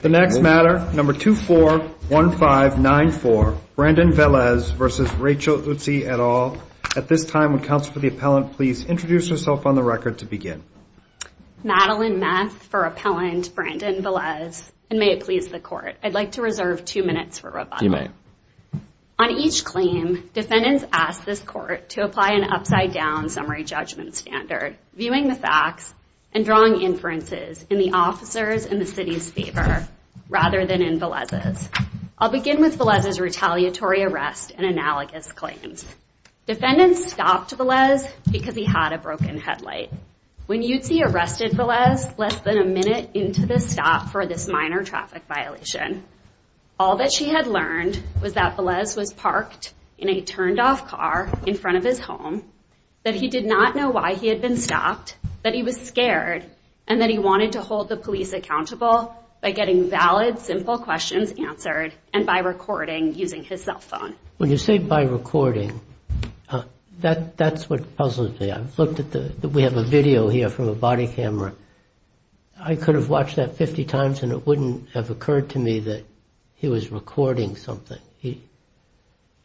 The next matter, number 241594, Brandon Velez v. Rachel Eutzy et al. At this time, would counsel for the appellant please introduce herself on the record to begin. Madeline Meth for appellant Brandon Velez, and may it please the court, I'd like to reserve two minutes for rebuttal. You may. On each claim, defendants ask this court to apply an upside-down summary judgment standard, viewing the facts and drawing inferences in the officer's and the city's favor rather than in Velez's. I'll begin with Velez's retaliatory arrest and analogous claims. Defendants stopped Velez because he had a broken headlight. When Eutzy arrested Velez less than a minute into the stop for this minor traffic violation, all that she had learned was that Velez was parked in a turned-off car in front of his home, that he did not know why he had been stopped, that he was scared, and that he wanted to hold the police accountable by getting valid, simple questions answered and by recording using his cell phone. When you say by recording, that's what puzzles me. We have a video here from a body camera. I could have watched that 50 times and it wouldn't have occurred to me that he was recording something.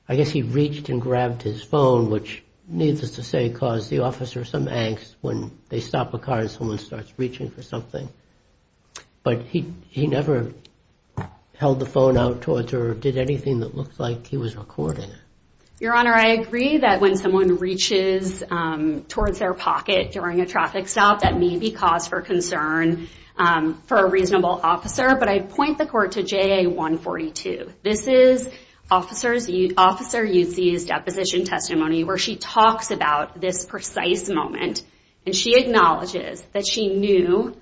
I guess he reached and grabbed his phone, which, needless to say, caused the officer some angst when they stop a car and someone starts reaching for something. But he never held the phone out towards her or did anything that looked like he was recording. Your Honor, I agree that when someone reaches towards their pocket during a traffic stop, that may be cause for concern for a reasonable officer, but I point the court to JA-142. This is Officer Yuzzi's deposition testimony where she talks about this precise moment, and she acknowledges that she knew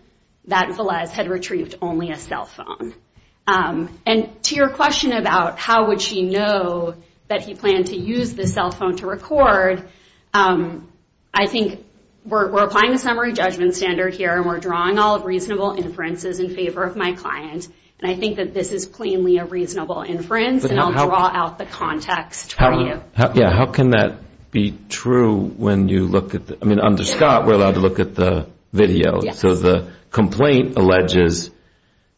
that Velez had retrieved only a cell phone. And to your question about how would she know that he planned to use the cell phone to record, I think we're applying the summary judgment standard here, and we're drawing all reasonable inferences in favor of my client, and I think that this is plainly a reasonable inference, and I'll draw out the context for you. Yeah, how can that be true when you look at the – I mean, under Scott, we're allowed to look at the video. Yes. So the complaint alleges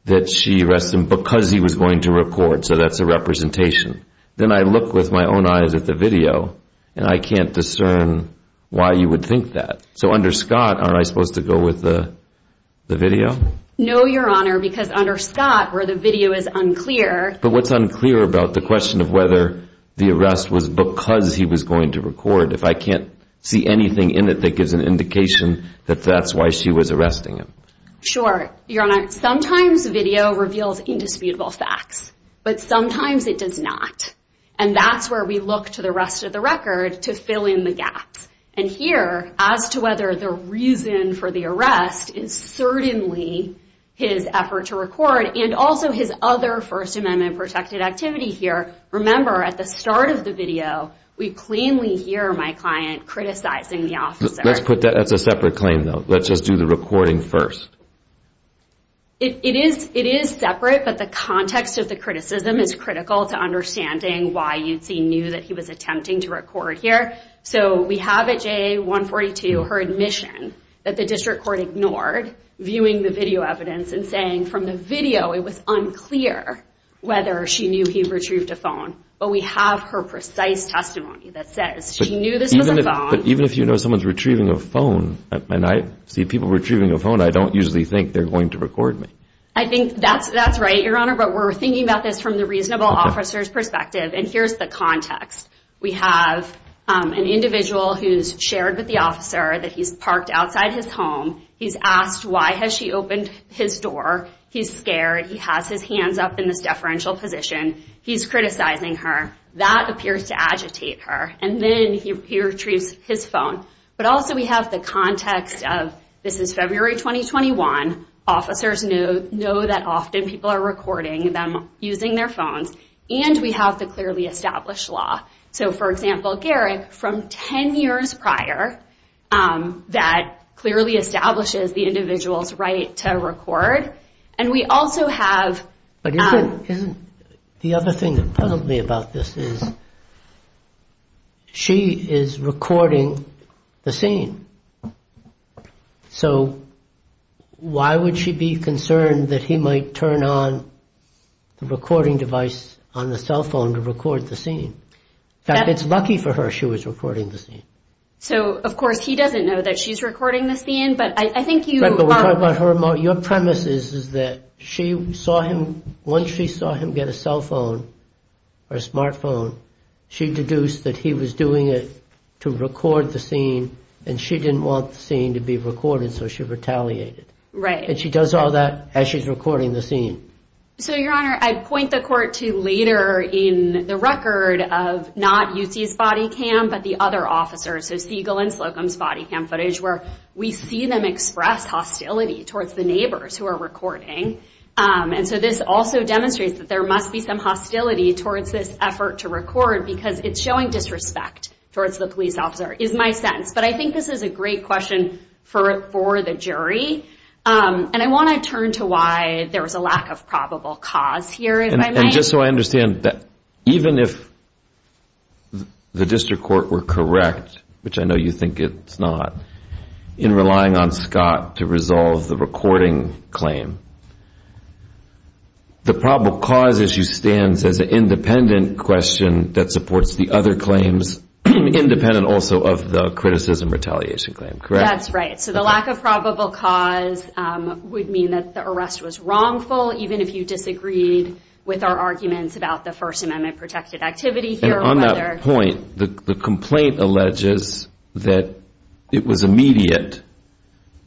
that she arrested him because he was going to record, so that's a representation. Then I look with my own eyes at the video, and I can't discern why you would think that. So under Scott, aren't I supposed to go with the video? No, Your Honor, because under Scott, where the video is unclear. But what's unclear about the question of whether the arrest was because he was going to record, if I can't see anything in it that gives an indication that that's why she was arresting him? Sure. Your Honor, sometimes video reveals indisputable facts, but sometimes it does not, and that's where we look to the rest of the record to fill in the gaps. And here, as to whether the reason for the arrest is certainly his effort to record and also his other First Amendment-protected activity here, remember at the start of the video, we plainly hear my client criticizing the officer. Let's put that as a separate claim, though. Let's just do the recording first. It is separate, but the context of the criticism is critical to understanding why you'd see new that he was attempting to record here. So we have at JA 142 her admission that the district court ignored, viewing the video evidence and saying from the video it was unclear whether she knew he retrieved a phone. But we have her precise testimony that says she knew this was a phone. But even if you know someone's retrieving a phone, and I see people retrieving a phone, I don't usually think they're going to record me. I think that's right, Your Honor, but we're thinking about this from the reasonable officer's perspective, and here's the context. We have an individual who's shared with the officer that he's parked outside his home. He's asked why has she opened his door. He's scared. He has his hands up in this deferential position. He's criticizing her. That appears to agitate her, and then he retrieves his phone. But also we have the context of this is February 2021. Officers know that often people are recording them using their phones, and we have the clearly established law. So, for example, Garrick, from 10 years prior, that clearly establishes the individual's right to record, and we also have... But isn't the other thing that puzzled me about this is she is recording the scene. So why would she be concerned that he might turn on the recording device on the cell phone to record the scene? In fact, it's lucky for her she was recording the scene. So, of course, he doesn't know that she's recording the scene, but I think you... But we're talking about her... Your premise is that she saw him... Once she saw him get a cell phone or a smartphone, she deduced that he was doing it to record the scene, and she didn't want the scene to be recorded, so she retaliated. And she does all that as she's recording the scene. So, Your Honor, I'd point the court to later in the record of not UC's body cam, but the other officers, so Siegel and Slocum's body cam footage, where we see them express hostility towards the neighbors who are recording. And so this also demonstrates that there must be some hostility towards this effort to record because it's showing disrespect towards the police officer, is my sense. But I think this is a great question for the jury, and I want to turn to why there was a lack of probable cause here. And just so I understand, even if the district court were correct, which I know you think it's not, in relying on Scott to resolve the recording claim, the probable cause issue stands as an independent question that supports the other claims, independent also of the criticism retaliation claim, correct? That's right. So the lack of probable cause would mean that the arrest was wrongful, even if you disagreed with our arguments about the First Amendment protected activity here. On that point, the complaint alleges that it was immediate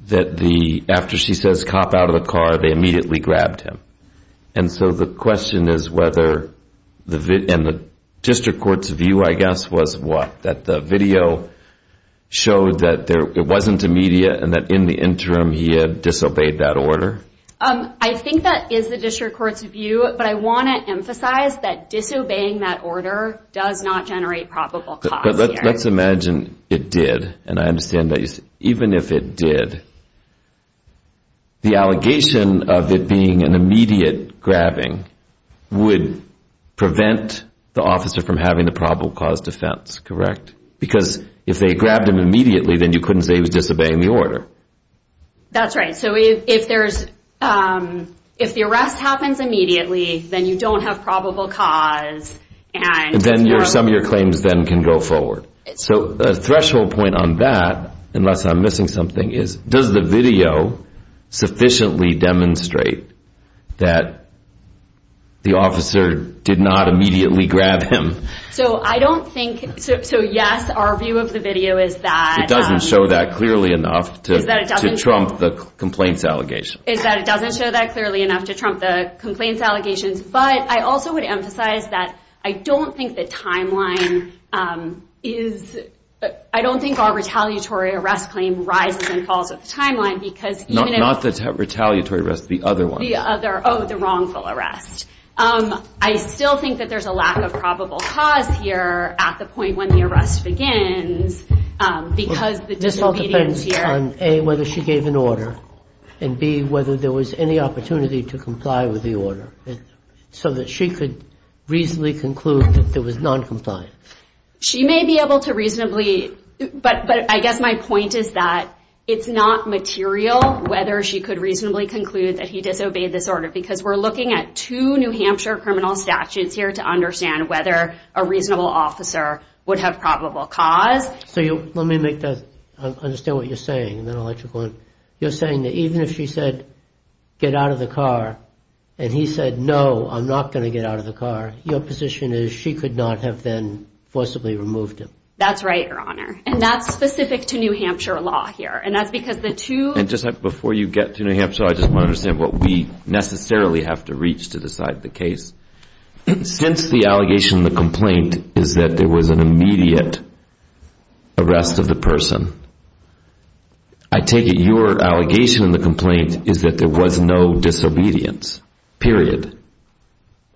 that after she says, cop out of the car, they immediately grabbed him. And so the question is whether the district court's view, I guess, was what? That the video showed that it wasn't immediate and that in the interim he had disobeyed that order? I think that is the district court's view, but I want to emphasize that disobeying that order does not generate probable cause here. But let's imagine it did, and I understand that even if it did, the allegation of it being an immediate grabbing would prevent the officer from having the probable cause defense, correct? Because if they grabbed him immediately, then you couldn't say he was disobeying the order. That's right. So if the arrest happens immediately, then you don't have probable cause. And then some of your claims then can go forward. So a threshold point on that, unless I'm missing something, is does the video sufficiently demonstrate that the officer did not immediately grab him? So I don't think, so yes, our view of the video is that... It doesn't show that clearly enough to trump the complaints allegations. Is that it doesn't show that clearly enough to trump the complaints allegations. But I also would emphasize that I don't think the timeline is, I don't think our retaliatory arrest claim rises and falls with the timeline because... Not the retaliatory arrest, the other one. Oh, the wrongful arrest. I still think that there's a lack of probable cause here at the point when the arrest begins because the disobedience here... This all depends on A, whether she gave an order, and B, whether there was any opportunity to comply with the order, so that she could reasonably conclude that there was noncompliance. She may be able to reasonably, but I guess my point is that it's not material whether she could reasonably conclude that he disobeyed this order because we're looking at two New Hampshire criminal statutes here to understand whether a reasonable officer would have probable cause. So let me understand what you're saying, and then I'll let you go on. You're saying that even if she said, get out of the car, and he said, no, I'm not going to get out of the car, your position is she could not have then forcibly removed him. That's right, Your Honor. And that's specific to New Hampshire law here, and that's because the two... And just before you get to New Hampshire, I just want to understand what we necessarily have to reach to decide the case. Since the allegation in the complaint is that there was an immediate arrest of the person, I take it your allegation in the complaint is that there was no disobedience, period.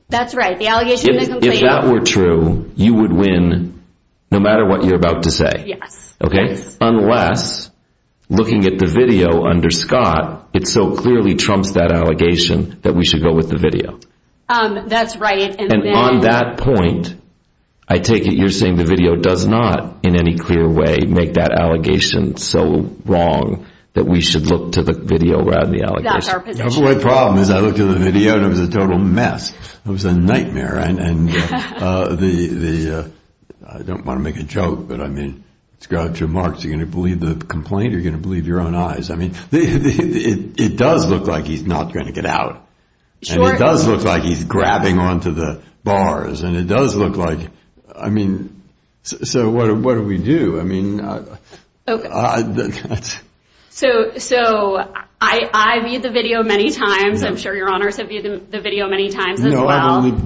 That's right. The allegation in the complaint... If that were true, you would win no matter what you're about to say. Yes. Unless, looking at the video under Scott, it so clearly trumps that allegation that we should go with the video. That's right. And on that point, I take it you're saying the video does not in any clear way make that allegation so wrong that we should look to the video rather than the allegation. That's our position. The only problem is I looked at the video and it was a total mess. It was a nightmare. And the... I don't want to make a joke, but I mean, it's got two marks. You're going to believe the complaint or you're going to believe your own eyes. I mean, it does look like he's not going to get out. And it does look like he's grabbing onto the bars. And it does look like... I mean, so what do we do? I mean... So I viewed the video many times. I'm sure your honors have viewed the video many times as well. No, I've only...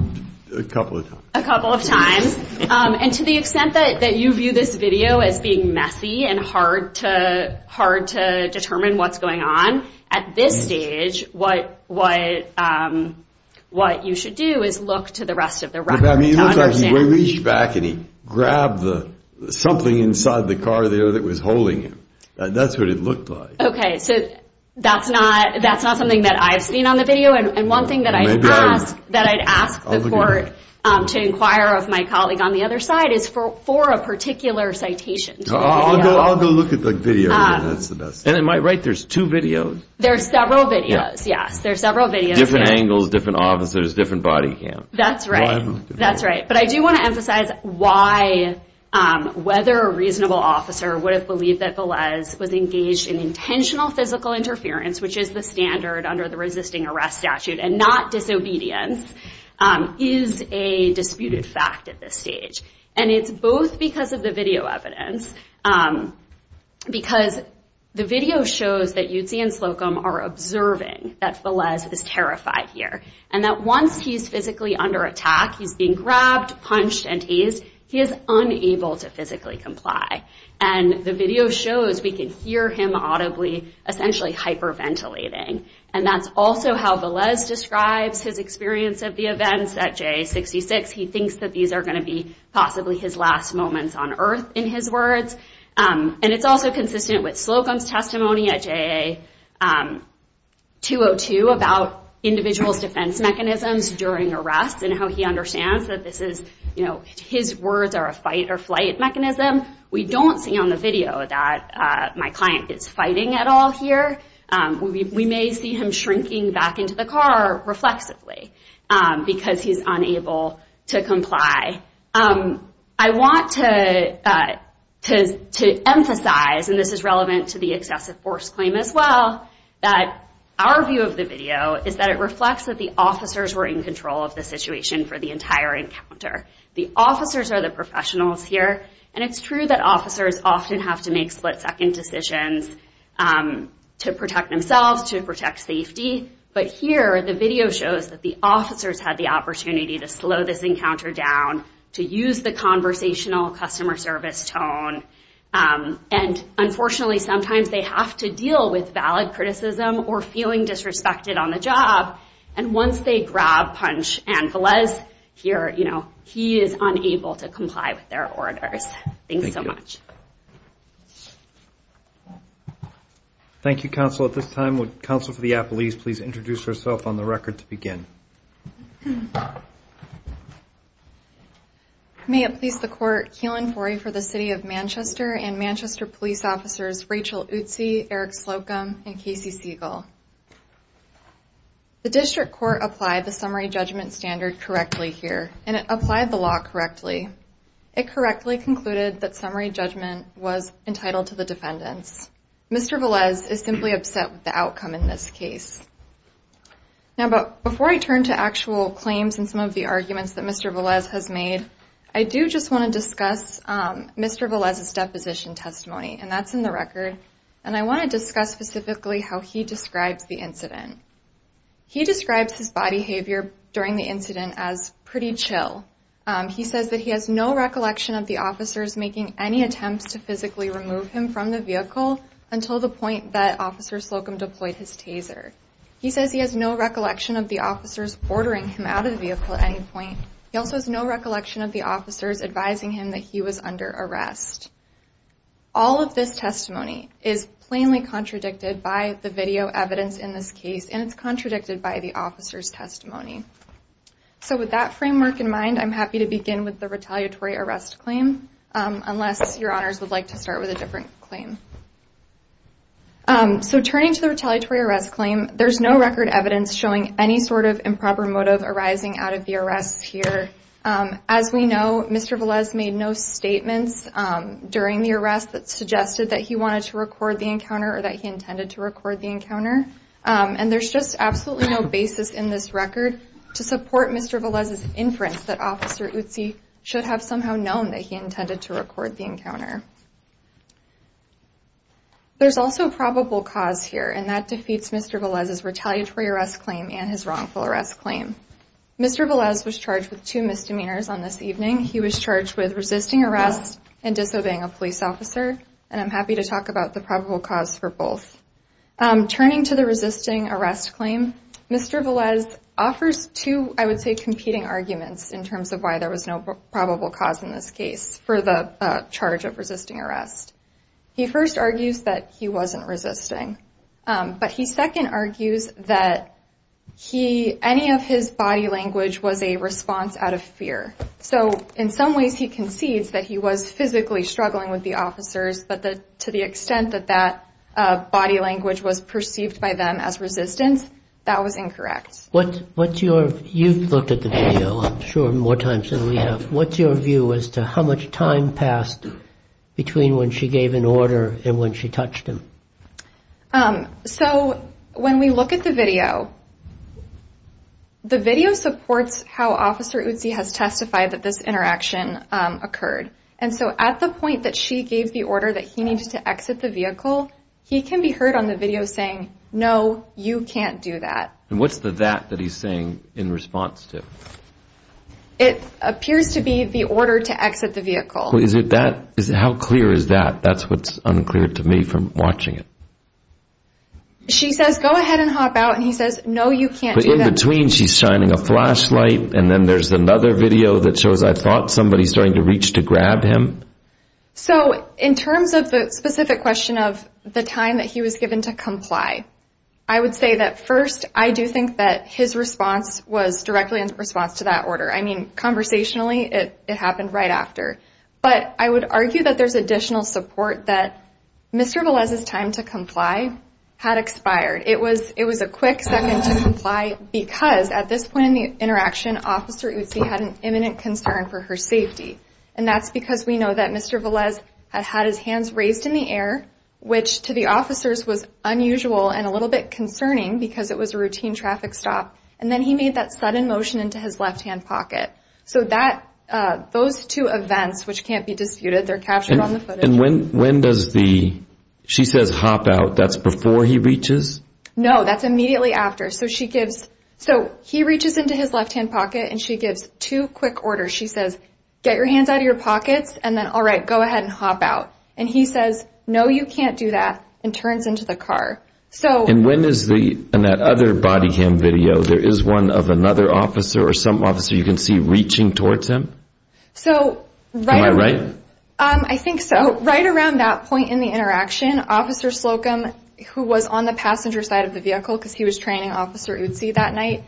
a couple of times. A couple of times. And to the extent that you view this video as being messy and hard to determine what's going on, at this stage, what you should do is look to the rest of the record to understand. It looks like he reached back and he grabbed something inside the car there that was holding him. That's what it looked like. Okay, so that's not something that I've seen on the video. And one thing that I'd ask the court to inquire of my colleague on the other side is for a particular citation to the video. I'll go look at the video. And in my right, there's two videos. There are several videos, yes. Different angles, different officers, different body cam. That's right. But I do want to emphasize why whether a reasonable officer would have believed that Velez was engaged in intentional physical interference, which is the standard under the resisting arrest statute, and not disobedience, is a disputed fact at this stage. And it's both because of the video evidence. Because the video shows that Yudzi and Slocum are observing that Velez is terrified here. And that once he's physically under attack, he's being grabbed, punched, and teased, he is unable to physically comply. And the video shows we can hear him audibly essentially hyperventilating. And that's also how Velez describes his experience of the events at J66. He thinks that these are going to be possibly his last moments on earth, in his words. And it's also consistent with Slocum's testimony at JAA 202 about individuals' defense mechanisms during arrests and how he understands that his words are a fight-or-flight mechanism. We don't see on the video that my client is fighting at all here. We may see him shrinking back into the car reflexively because he's unable to comply. I want to emphasize, and this is relevant to the excessive force claim as well, that our view of the video is that it reflects that the officers were in control of the situation for the entire encounter. The officers are the professionals here. And it's true that officers often have to make split-second decisions to protect themselves, to protect safety. But here, the video shows that the officers had the opportunity to slow this encounter down, to use the conversational customer service tone. And unfortunately, sometimes they have to deal with valid criticism or feeling disrespected on the job. And once they grab, punch, and Velez here, he is unable to comply with their orders. Thanks so much. Thank you, Counsel. At this time, would Counsel for the Appellees please introduce herself on the record to begin? May it please the Court, Keelan Forrey for the City of Manchester and Manchester Police Officers Rachel Utsi, Eric Slocum, and Casey Siegel. The District Court applied the summary judgment standard correctly here, and it applied the law correctly. It correctly concluded that summary judgment was entitled to the defendants. Mr. Velez is simply upset with the outcome in this case. Now, before I turn to actual claims and some of the arguments that Mr. Velez has made, I do just want to discuss Mr. Velez's deposition testimony, and that's in the record. And I want to discuss specifically how he describes the incident. He describes his body behavior during the incident as pretty chill. He says that he has no recollection of the officers making any attempts to physically remove him from the vehicle until the point that Officer Slocum deployed his taser. He says he has no recollection of the officers ordering him out of the vehicle at any point. He also has no recollection of the officers advising him that he was under arrest. All of this testimony is plainly contradicted by the video evidence in this case, and it's contradicted by the officers' testimony. So with that framework in mind, I'm happy to begin with the retaliatory arrest claim, unless your honors would like to start with a different claim. So turning to the retaliatory arrest claim, there's no record evidence showing any sort of improper motive arising out of the arrests here. As we know, Mr. Velez made no statements during the arrest that suggested that he wanted to record the encounter or that he intended to record the encounter. And there's just absolutely no basis in this record to support Mr. Velez's inference that Officer Utsi should have somehow known that he intended to record the encounter. There's also probable cause here, and that defeats Mr. Velez's retaliatory arrest claim and his wrongful arrest claim. Mr. Velez was charged with two misdemeanors on this evening. He was charged with resisting arrest and disobeying a police officer, and I'm happy to talk about the probable cause for both. Turning to the resisting arrest claim, Mr. Velez offers two, I would say, competing arguments in terms of why there was no probable cause in this case for the charge of resisting arrest. He first argues that he wasn't resisting, but he second argues that any of his body language was a response out of fear. So in some ways he concedes that he was physically struggling with the officers, but to the extent that that body language was perceived by them as resistance, that was incorrect. You've looked at the video, I'm sure, more times than we have. What's your view as to how much time passed between when she gave an order and when she touched him? So when we look at the video, the video supports how Officer Utsi has testified that this interaction occurred. And so at the point that she gave the order that he needs to exit the vehicle, he can be heard on the video saying, no, you can't do that. And what's the that that he's saying in response to? It appears to be the order to exit the vehicle. How clear is that? That's what's unclear to me from watching it. She says, go ahead and hop out, and he says, no, you can't do that. But in between she's shining a flashlight, and then there's another video that shows I thought somebody starting to reach to grab him. So in terms of the specific question of the time that he was given to comply, I would say that, first, I do think that his response was directly in response to that order. I mean, conversationally, it happened right after. But I would argue that there's additional support that Mr. Velez's time to comply had expired. It was a quick second to comply because at this point in the interaction, Officer Utsi had an imminent concern for her safety. And that's because we know that Mr. Velez had had his hands raised in the air, which to the officers was unusual and a little bit concerning because it was a routine traffic stop. And then he made that sudden motion into his left-hand pocket. So those two events, which can't be disputed, they're captured on the footage. And when does the—she says, hop out. That's before he reaches? No, that's immediately after. So he reaches into his left-hand pocket, and she gives two quick orders. She says, get your hands out of your pockets, and then, all right, go ahead and hop out. And he says, no, you can't do that, and turns into the car. And when is the—in that other body cam video, there is one of another officer or some officer you can see reaching towards him? Am I right? I think so. Right around that point in the interaction, Officer Slocum, who was on the passenger side of the vehicle because he was training Officer Utsi that night,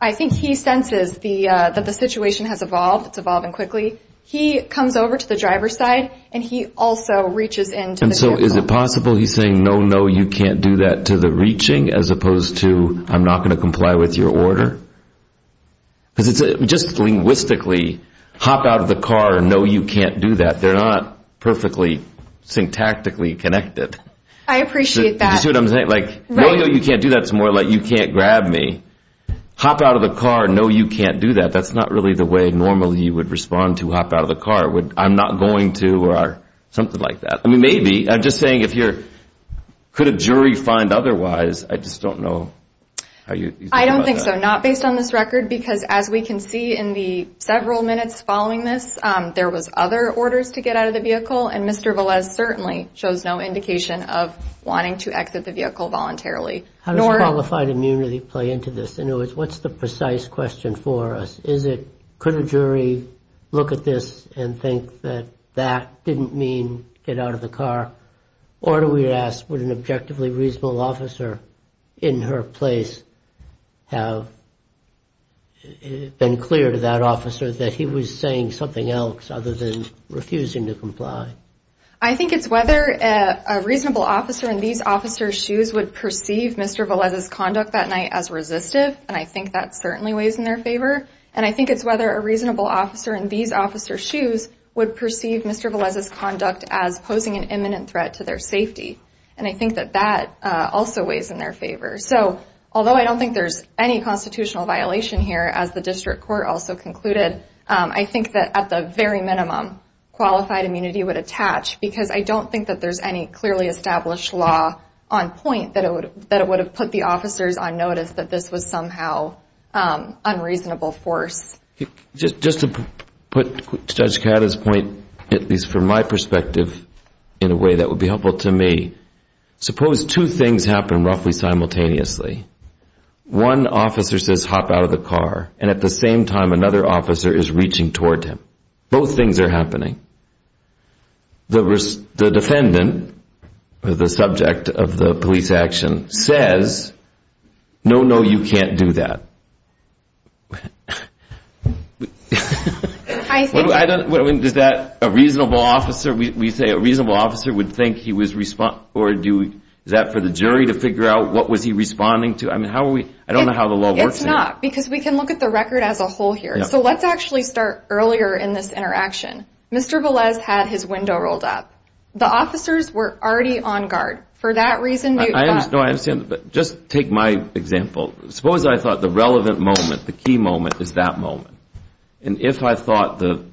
I think he senses that the situation has evolved, it's evolving quickly. He comes over to the driver's side, and he also reaches into the vehicle. And so is it possible he's saying, no, no, you can't do that, to the reaching, as opposed to, I'm not going to comply with your order? Because just linguistically, hop out of the car, no, you can't do that, they're not perfectly syntactically connected. I appreciate that. See what I'm saying? Like, no, no, you can't do that is more like you can't grab me. Hop out of the car, no, you can't do that, that's not really the way normally you would respond to hop out of the car. I'm not going to, or something like that. I mean, maybe. I'm just saying if you're—could a jury find otherwise? I just don't know how you— I don't think so, not based on this record, because as we can see in the several minutes following this, there was other orders to get out of the vehicle, and Mr. Velez certainly shows no indication of wanting to exit the vehicle voluntarily. How does qualified immunity play into this? In other words, what's the precise question for us? Is it, could a jury look at this and think that that didn't mean get out of the car? Or do we ask, would an objectively reasonable officer in her place have been clear to that officer that he was saying something else other than refusing to comply? I think it's whether a reasonable officer in these officers' shoes would perceive Mr. Velez's conduct that night as resistive, and I think that certainly weighs in their favor. And I think it's whether a reasonable officer in these officers' shoes would perceive Mr. Velez's conduct as posing an imminent threat to their safety, and I think that that also weighs in their favor. So although I don't think there's any constitutional violation here, as the district court also concluded, I think that at the very minimum, qualified immunity would attach, because I don't think that there's any clearly established law on point that it would have put the officers on notice that this was somehow unreasonable force. Just to put Judge Cahada's point, at least from my perspective, in a way that would be helpful to me, suppose two things happen roughly simultaneously. One officer says, hop out of the car, and at the same time another officer is reaching toward him. Both things are happening. The defendant, the subject of the police action, says, no, no, you can't do that. Does that, a reasonable officer, we say a reasonable officer would think he was responding, or is that for the jury to figure out what was he responding to? I don't know how the law works here. It's not, because we can look at the record as a whole here. So let's actually start earlier in this interaction. Mr. Velez had his window rolled up. The officers were already on guard. For that reason, you thought... No, I understand, but just take my example. Suppose I thought the relevant moment, the key moment, is that moment. And if I thought the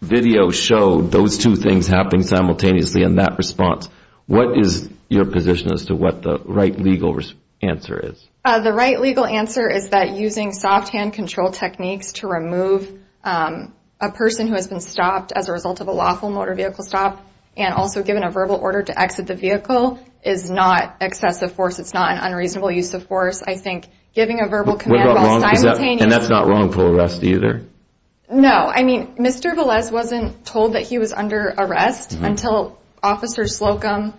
video showed those two things happening simultaneously in that response, what is your position as to what the right legal answer is? The right legal answer is that using soft hand control techniques to remove a person who has been stopped as a result of a lawful motor vehicle stop and also given a verbal order to exit the vehicle is not excessive force. It's not an unreasonable use of force. I think giving a verbal command while simultaneously... And that's not wrongful arrest either? No. I mean, Mr. Velez wasn't told that he was under arrest until Officer Slocum,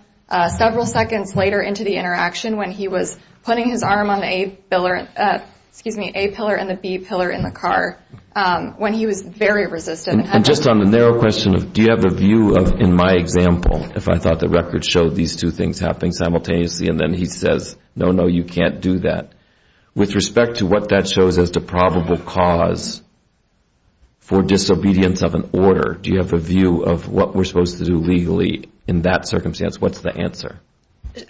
several seconds later into the interaction, when he was putting his arm on the A pillar and the B pillar in the car, when he was very resistant. And just on the narrow question of do you have a view of, in my example, if I thought the record showed these two things happening simultaneously, and then he says, no, no, you can't do that. With respect to what that shows as the probable cause for disobedience of an order, do you have a view of what we're supposed to do legally in that circumstance? What's the answer?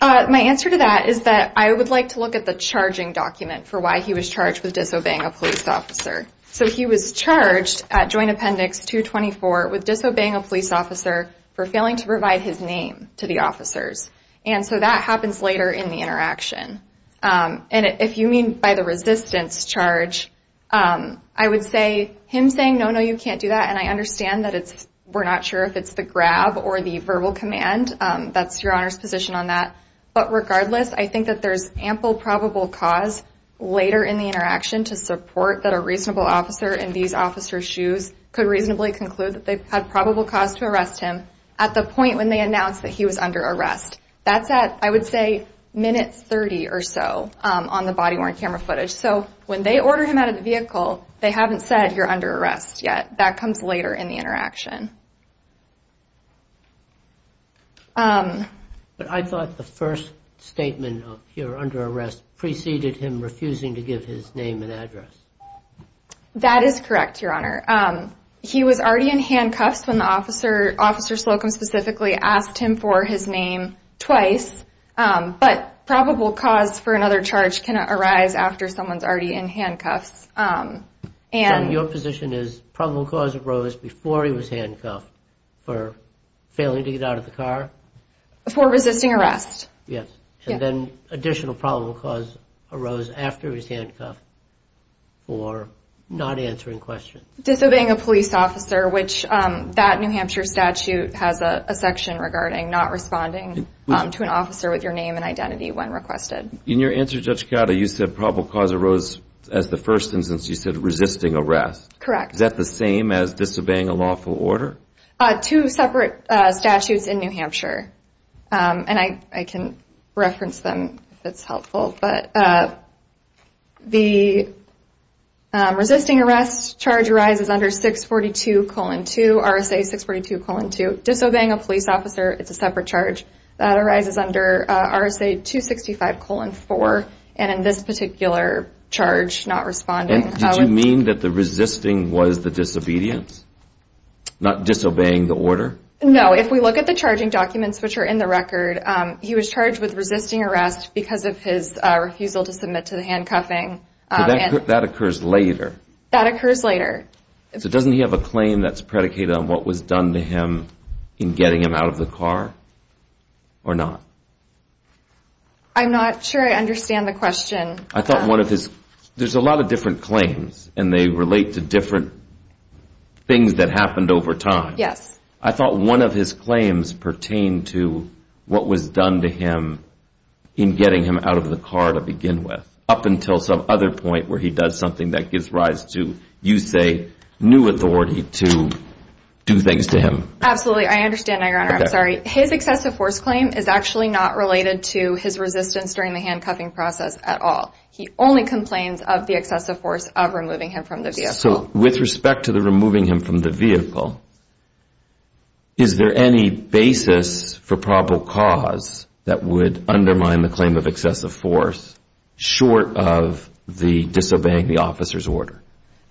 My answer to that is that I would like to look at the charging document for why he was charged with disobeying a police officer. So he was charged at Joint Appendix 224 with disobeying a police officer for failing to provide his name to the officers. And so that happens later in the interaction. And if you mean by the resistance charge, I would say him saying, no, no, you can't do that, and I understand that we're not sure if it's the grab or the verbal command. That's Your Honor's position on that. But regardless, I think that there's ample probable cause later in the interaction to support that a reasonable officer in these officers' shoes could reasonably conclude that they had probable cause to arrest him at the point when they announced that he was under arrest. That's at, I would say, minute 30 or so on the body-worn camera footage. So when they order him out of the vehicle, they haven't said you're under arrest yet. That comes later in the interaction. But I thought the first statement of you're under arrest preceded him refusing to give his name and address. That is correct, Your Honor. He was already in handcuffs when the officer, Officer Slocum specifically, asked him for his name twice. But probable cause for another charge can arise after someone's already in handcuffs. And your position is probable cause arose before he was handcuffed for failing to get out of the car? For resisting arrest. Yes. And then additional probable cause arose after he was handcuffed for not answering questions. Disobeying a police officer, which that New Hampshire statute has a section regarding not responding to an officer with your name and identity when requested. In your answer, Judge Cato, you said probable cause arose as the first instance. You said resisting arrest. Correct. Is that the same as disobeying a lawful order? Two separate statutes in New Hampshire. And I can reference them if it's helpful. But the resisting arrest charge arises under 642-2, RSA 642-2. Disobeying a police officer, it's a separate charge. That arises under RSA 265-4. And in this particular charge, not responding. Did you mean that the resisting was the disobedience, not disobeying the order? No. If we look at the charging documents, which are in the record, he was charged with resisting arrest because of his refusal to submit to the handcuffing. That occurs later. That occurs later. So doesn't he have a claim that's predicated on what was done to him in getting him out of the car or not? I'm not sure I understand the question. There's a lot of different claims, and they relate to different things that happened over time. Yes. I thought one of his claims pertained to what was done to him in getting him out of the car to begin with, up until some other point where he does something that gives rise to, you say, new authority to do things to him. Absolutely. I understand, Your Honor. I'm sorry. His excessive force claim is actually not related to his resistance during the handcuffing process at all. He only complains of the excessive force of removing him from the vehicle. So with respect to the removing him from the vehicle, is there any basis for probable cause that would undermine the claim of excessive force, short of the disobeying the officer's order?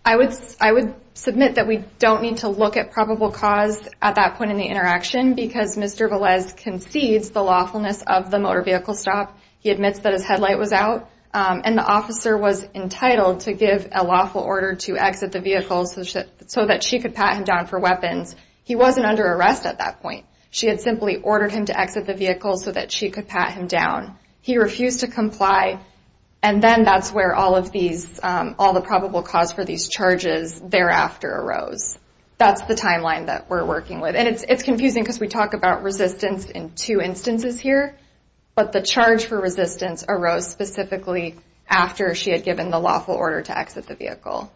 I would submit that we don't need to look at probable cause at that point in the interaction because Mr. Velez concedes the lawfulness of the motor vehicle stop. He admits that his headlight was out, and the officer was entitled to give a lawful order to exit the vehicle so that she could pat him down for weapons. He wasn't under arrest at that point. She had simply ordered him to exit the vehicle so that she could pat him down. He refused to comply, and then that's where all the probable cause for these charges thereafter arose. That's the timeline that we're working with. And it's confusing because we talk about resistance in two instances here, but the charge for resistance arose specifically after she had given the lawful order to exit the vehicle.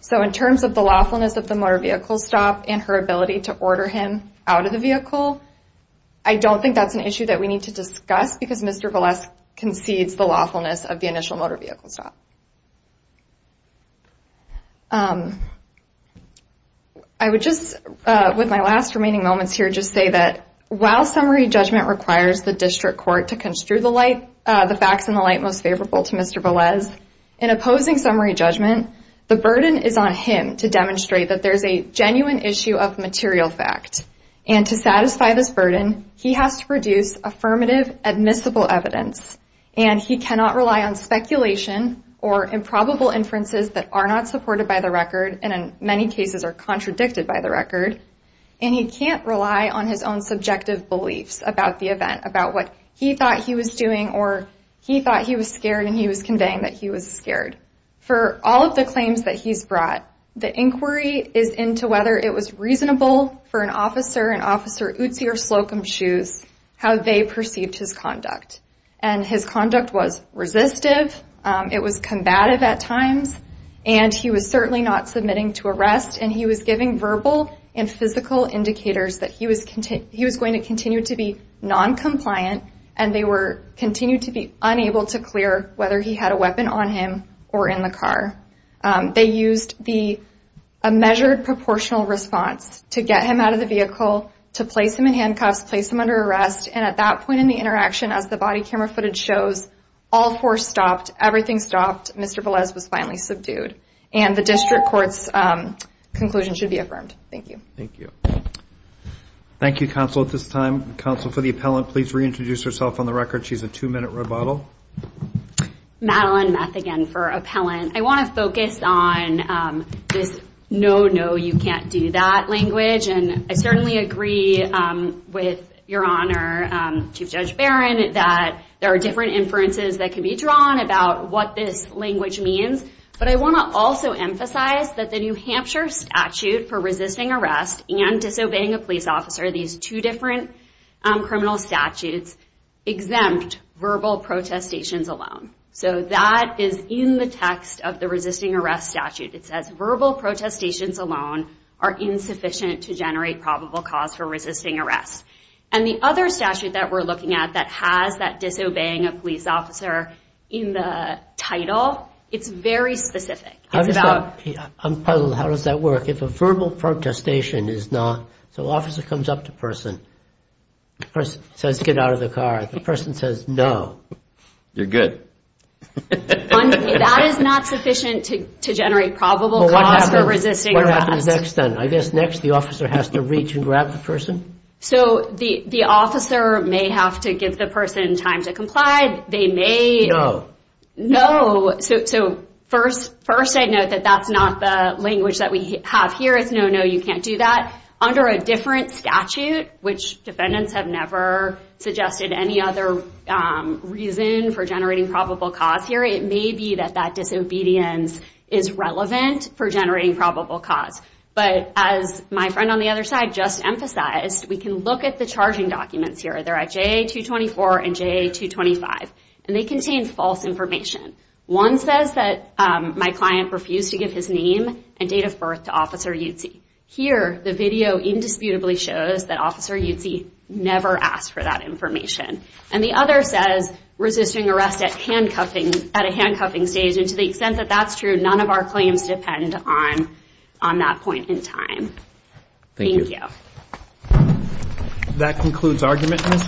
So in terms of the lawfulness of the motor vehicle stop and her ability to order him out of the vehicle, I don't think that's an issue that we need to discuss because Mr. Velez concedes the lawfulness of the initial motor vehicle stop. I would just, with my last remaining moments here, just say that while summary judgment requires the district court to construe the facts in the light most favorable to Mr. Velez, in opposing summary judgment, the burden is on him to demonstrate that there's a genuine issue of material fact and to satisfy this burden, he has to produce affirmative admissible evidence. And he cannot rely on speculation or improbable inferences that are not supported by the record and in many cases are contradicted by the record. And he can't rely on his own subjective beliefs about the event, about what he thought he was doing or he thought he was scared and he was conveying that he was scared. For all of the claims that he's brought, the inquiry is into whether it was reasonable for an officer, an officer Utsi or Slocum to choose how they perceived his conduct. And his conduct was resistive, it was combative at times, and he was certainly not submitting to arrest and he was giving verbal and physical indicators that he was going to continue to be non-compliant and they continued to be unable to clear whether he had a weapon on him or in the car. They used a measured proportional response to get him out of the vehicle, to place him in handcuffs, place him under arrest, and at that point in the interaction, as the body camera footage shows, all four stopped, everything stopped, Mr. Velez was finally subdued. And the district court's conclusion should be affirmed. Thank you. Thank you, Counsel. At this time, Counsel for the Appellant, please reintroduce herself on the record. She's a two-minute rebuttal. Madeline Meth again for Appellant. I want to focus on this no, no, you can't do that language. And I certainly agree with Your Honor, Chief Judge Barron, that there are different inferences that can be drawn about what this language means. But I want to also emphasize that the New Hampshire statute for resisting arrest and disobeying a police officer, these two different criminal statutes, exempt verbal protestations alone. So that is in the text of the resisting arrest statute. It says verbal protestations alone are insufficient to generate probable cause for resisting arrest. And the other statute that we're looking at that has that disobeying a police officer in the title, it's very specific. I'm puzzled, how does that work? If a verbal protestation is not, so an officer comes up to a person, the person says get out of the car, the person says no. You're good. That is not sufficient to generate probable cause for resisting arrest. What happens next then? I guess next the officer has to reach and grab the person? So the officer may have to give the person time to comply. No. So first I note that that's not the language that we have here. It's no, no, you can't do that. Under a different statute, which defendants have never suggested any other reason for generating probable cause here, it may be that that disobedience is relevant for generating probable cause. But as my friend on the other side just emphasized, we can look at the charging documents here. They're at J.A. 224 and J.A. 225. And they contain false information. One says that my client refused to give his name and date of birth to Officer Yutzey. Here the video indisputably shows that Officer Yutzey never asked for that information. And the other says resisting arrest at a handcuffing stage. And to the extent that that's true, none of our claims depend on that point in time. Thank you. That concludes argument.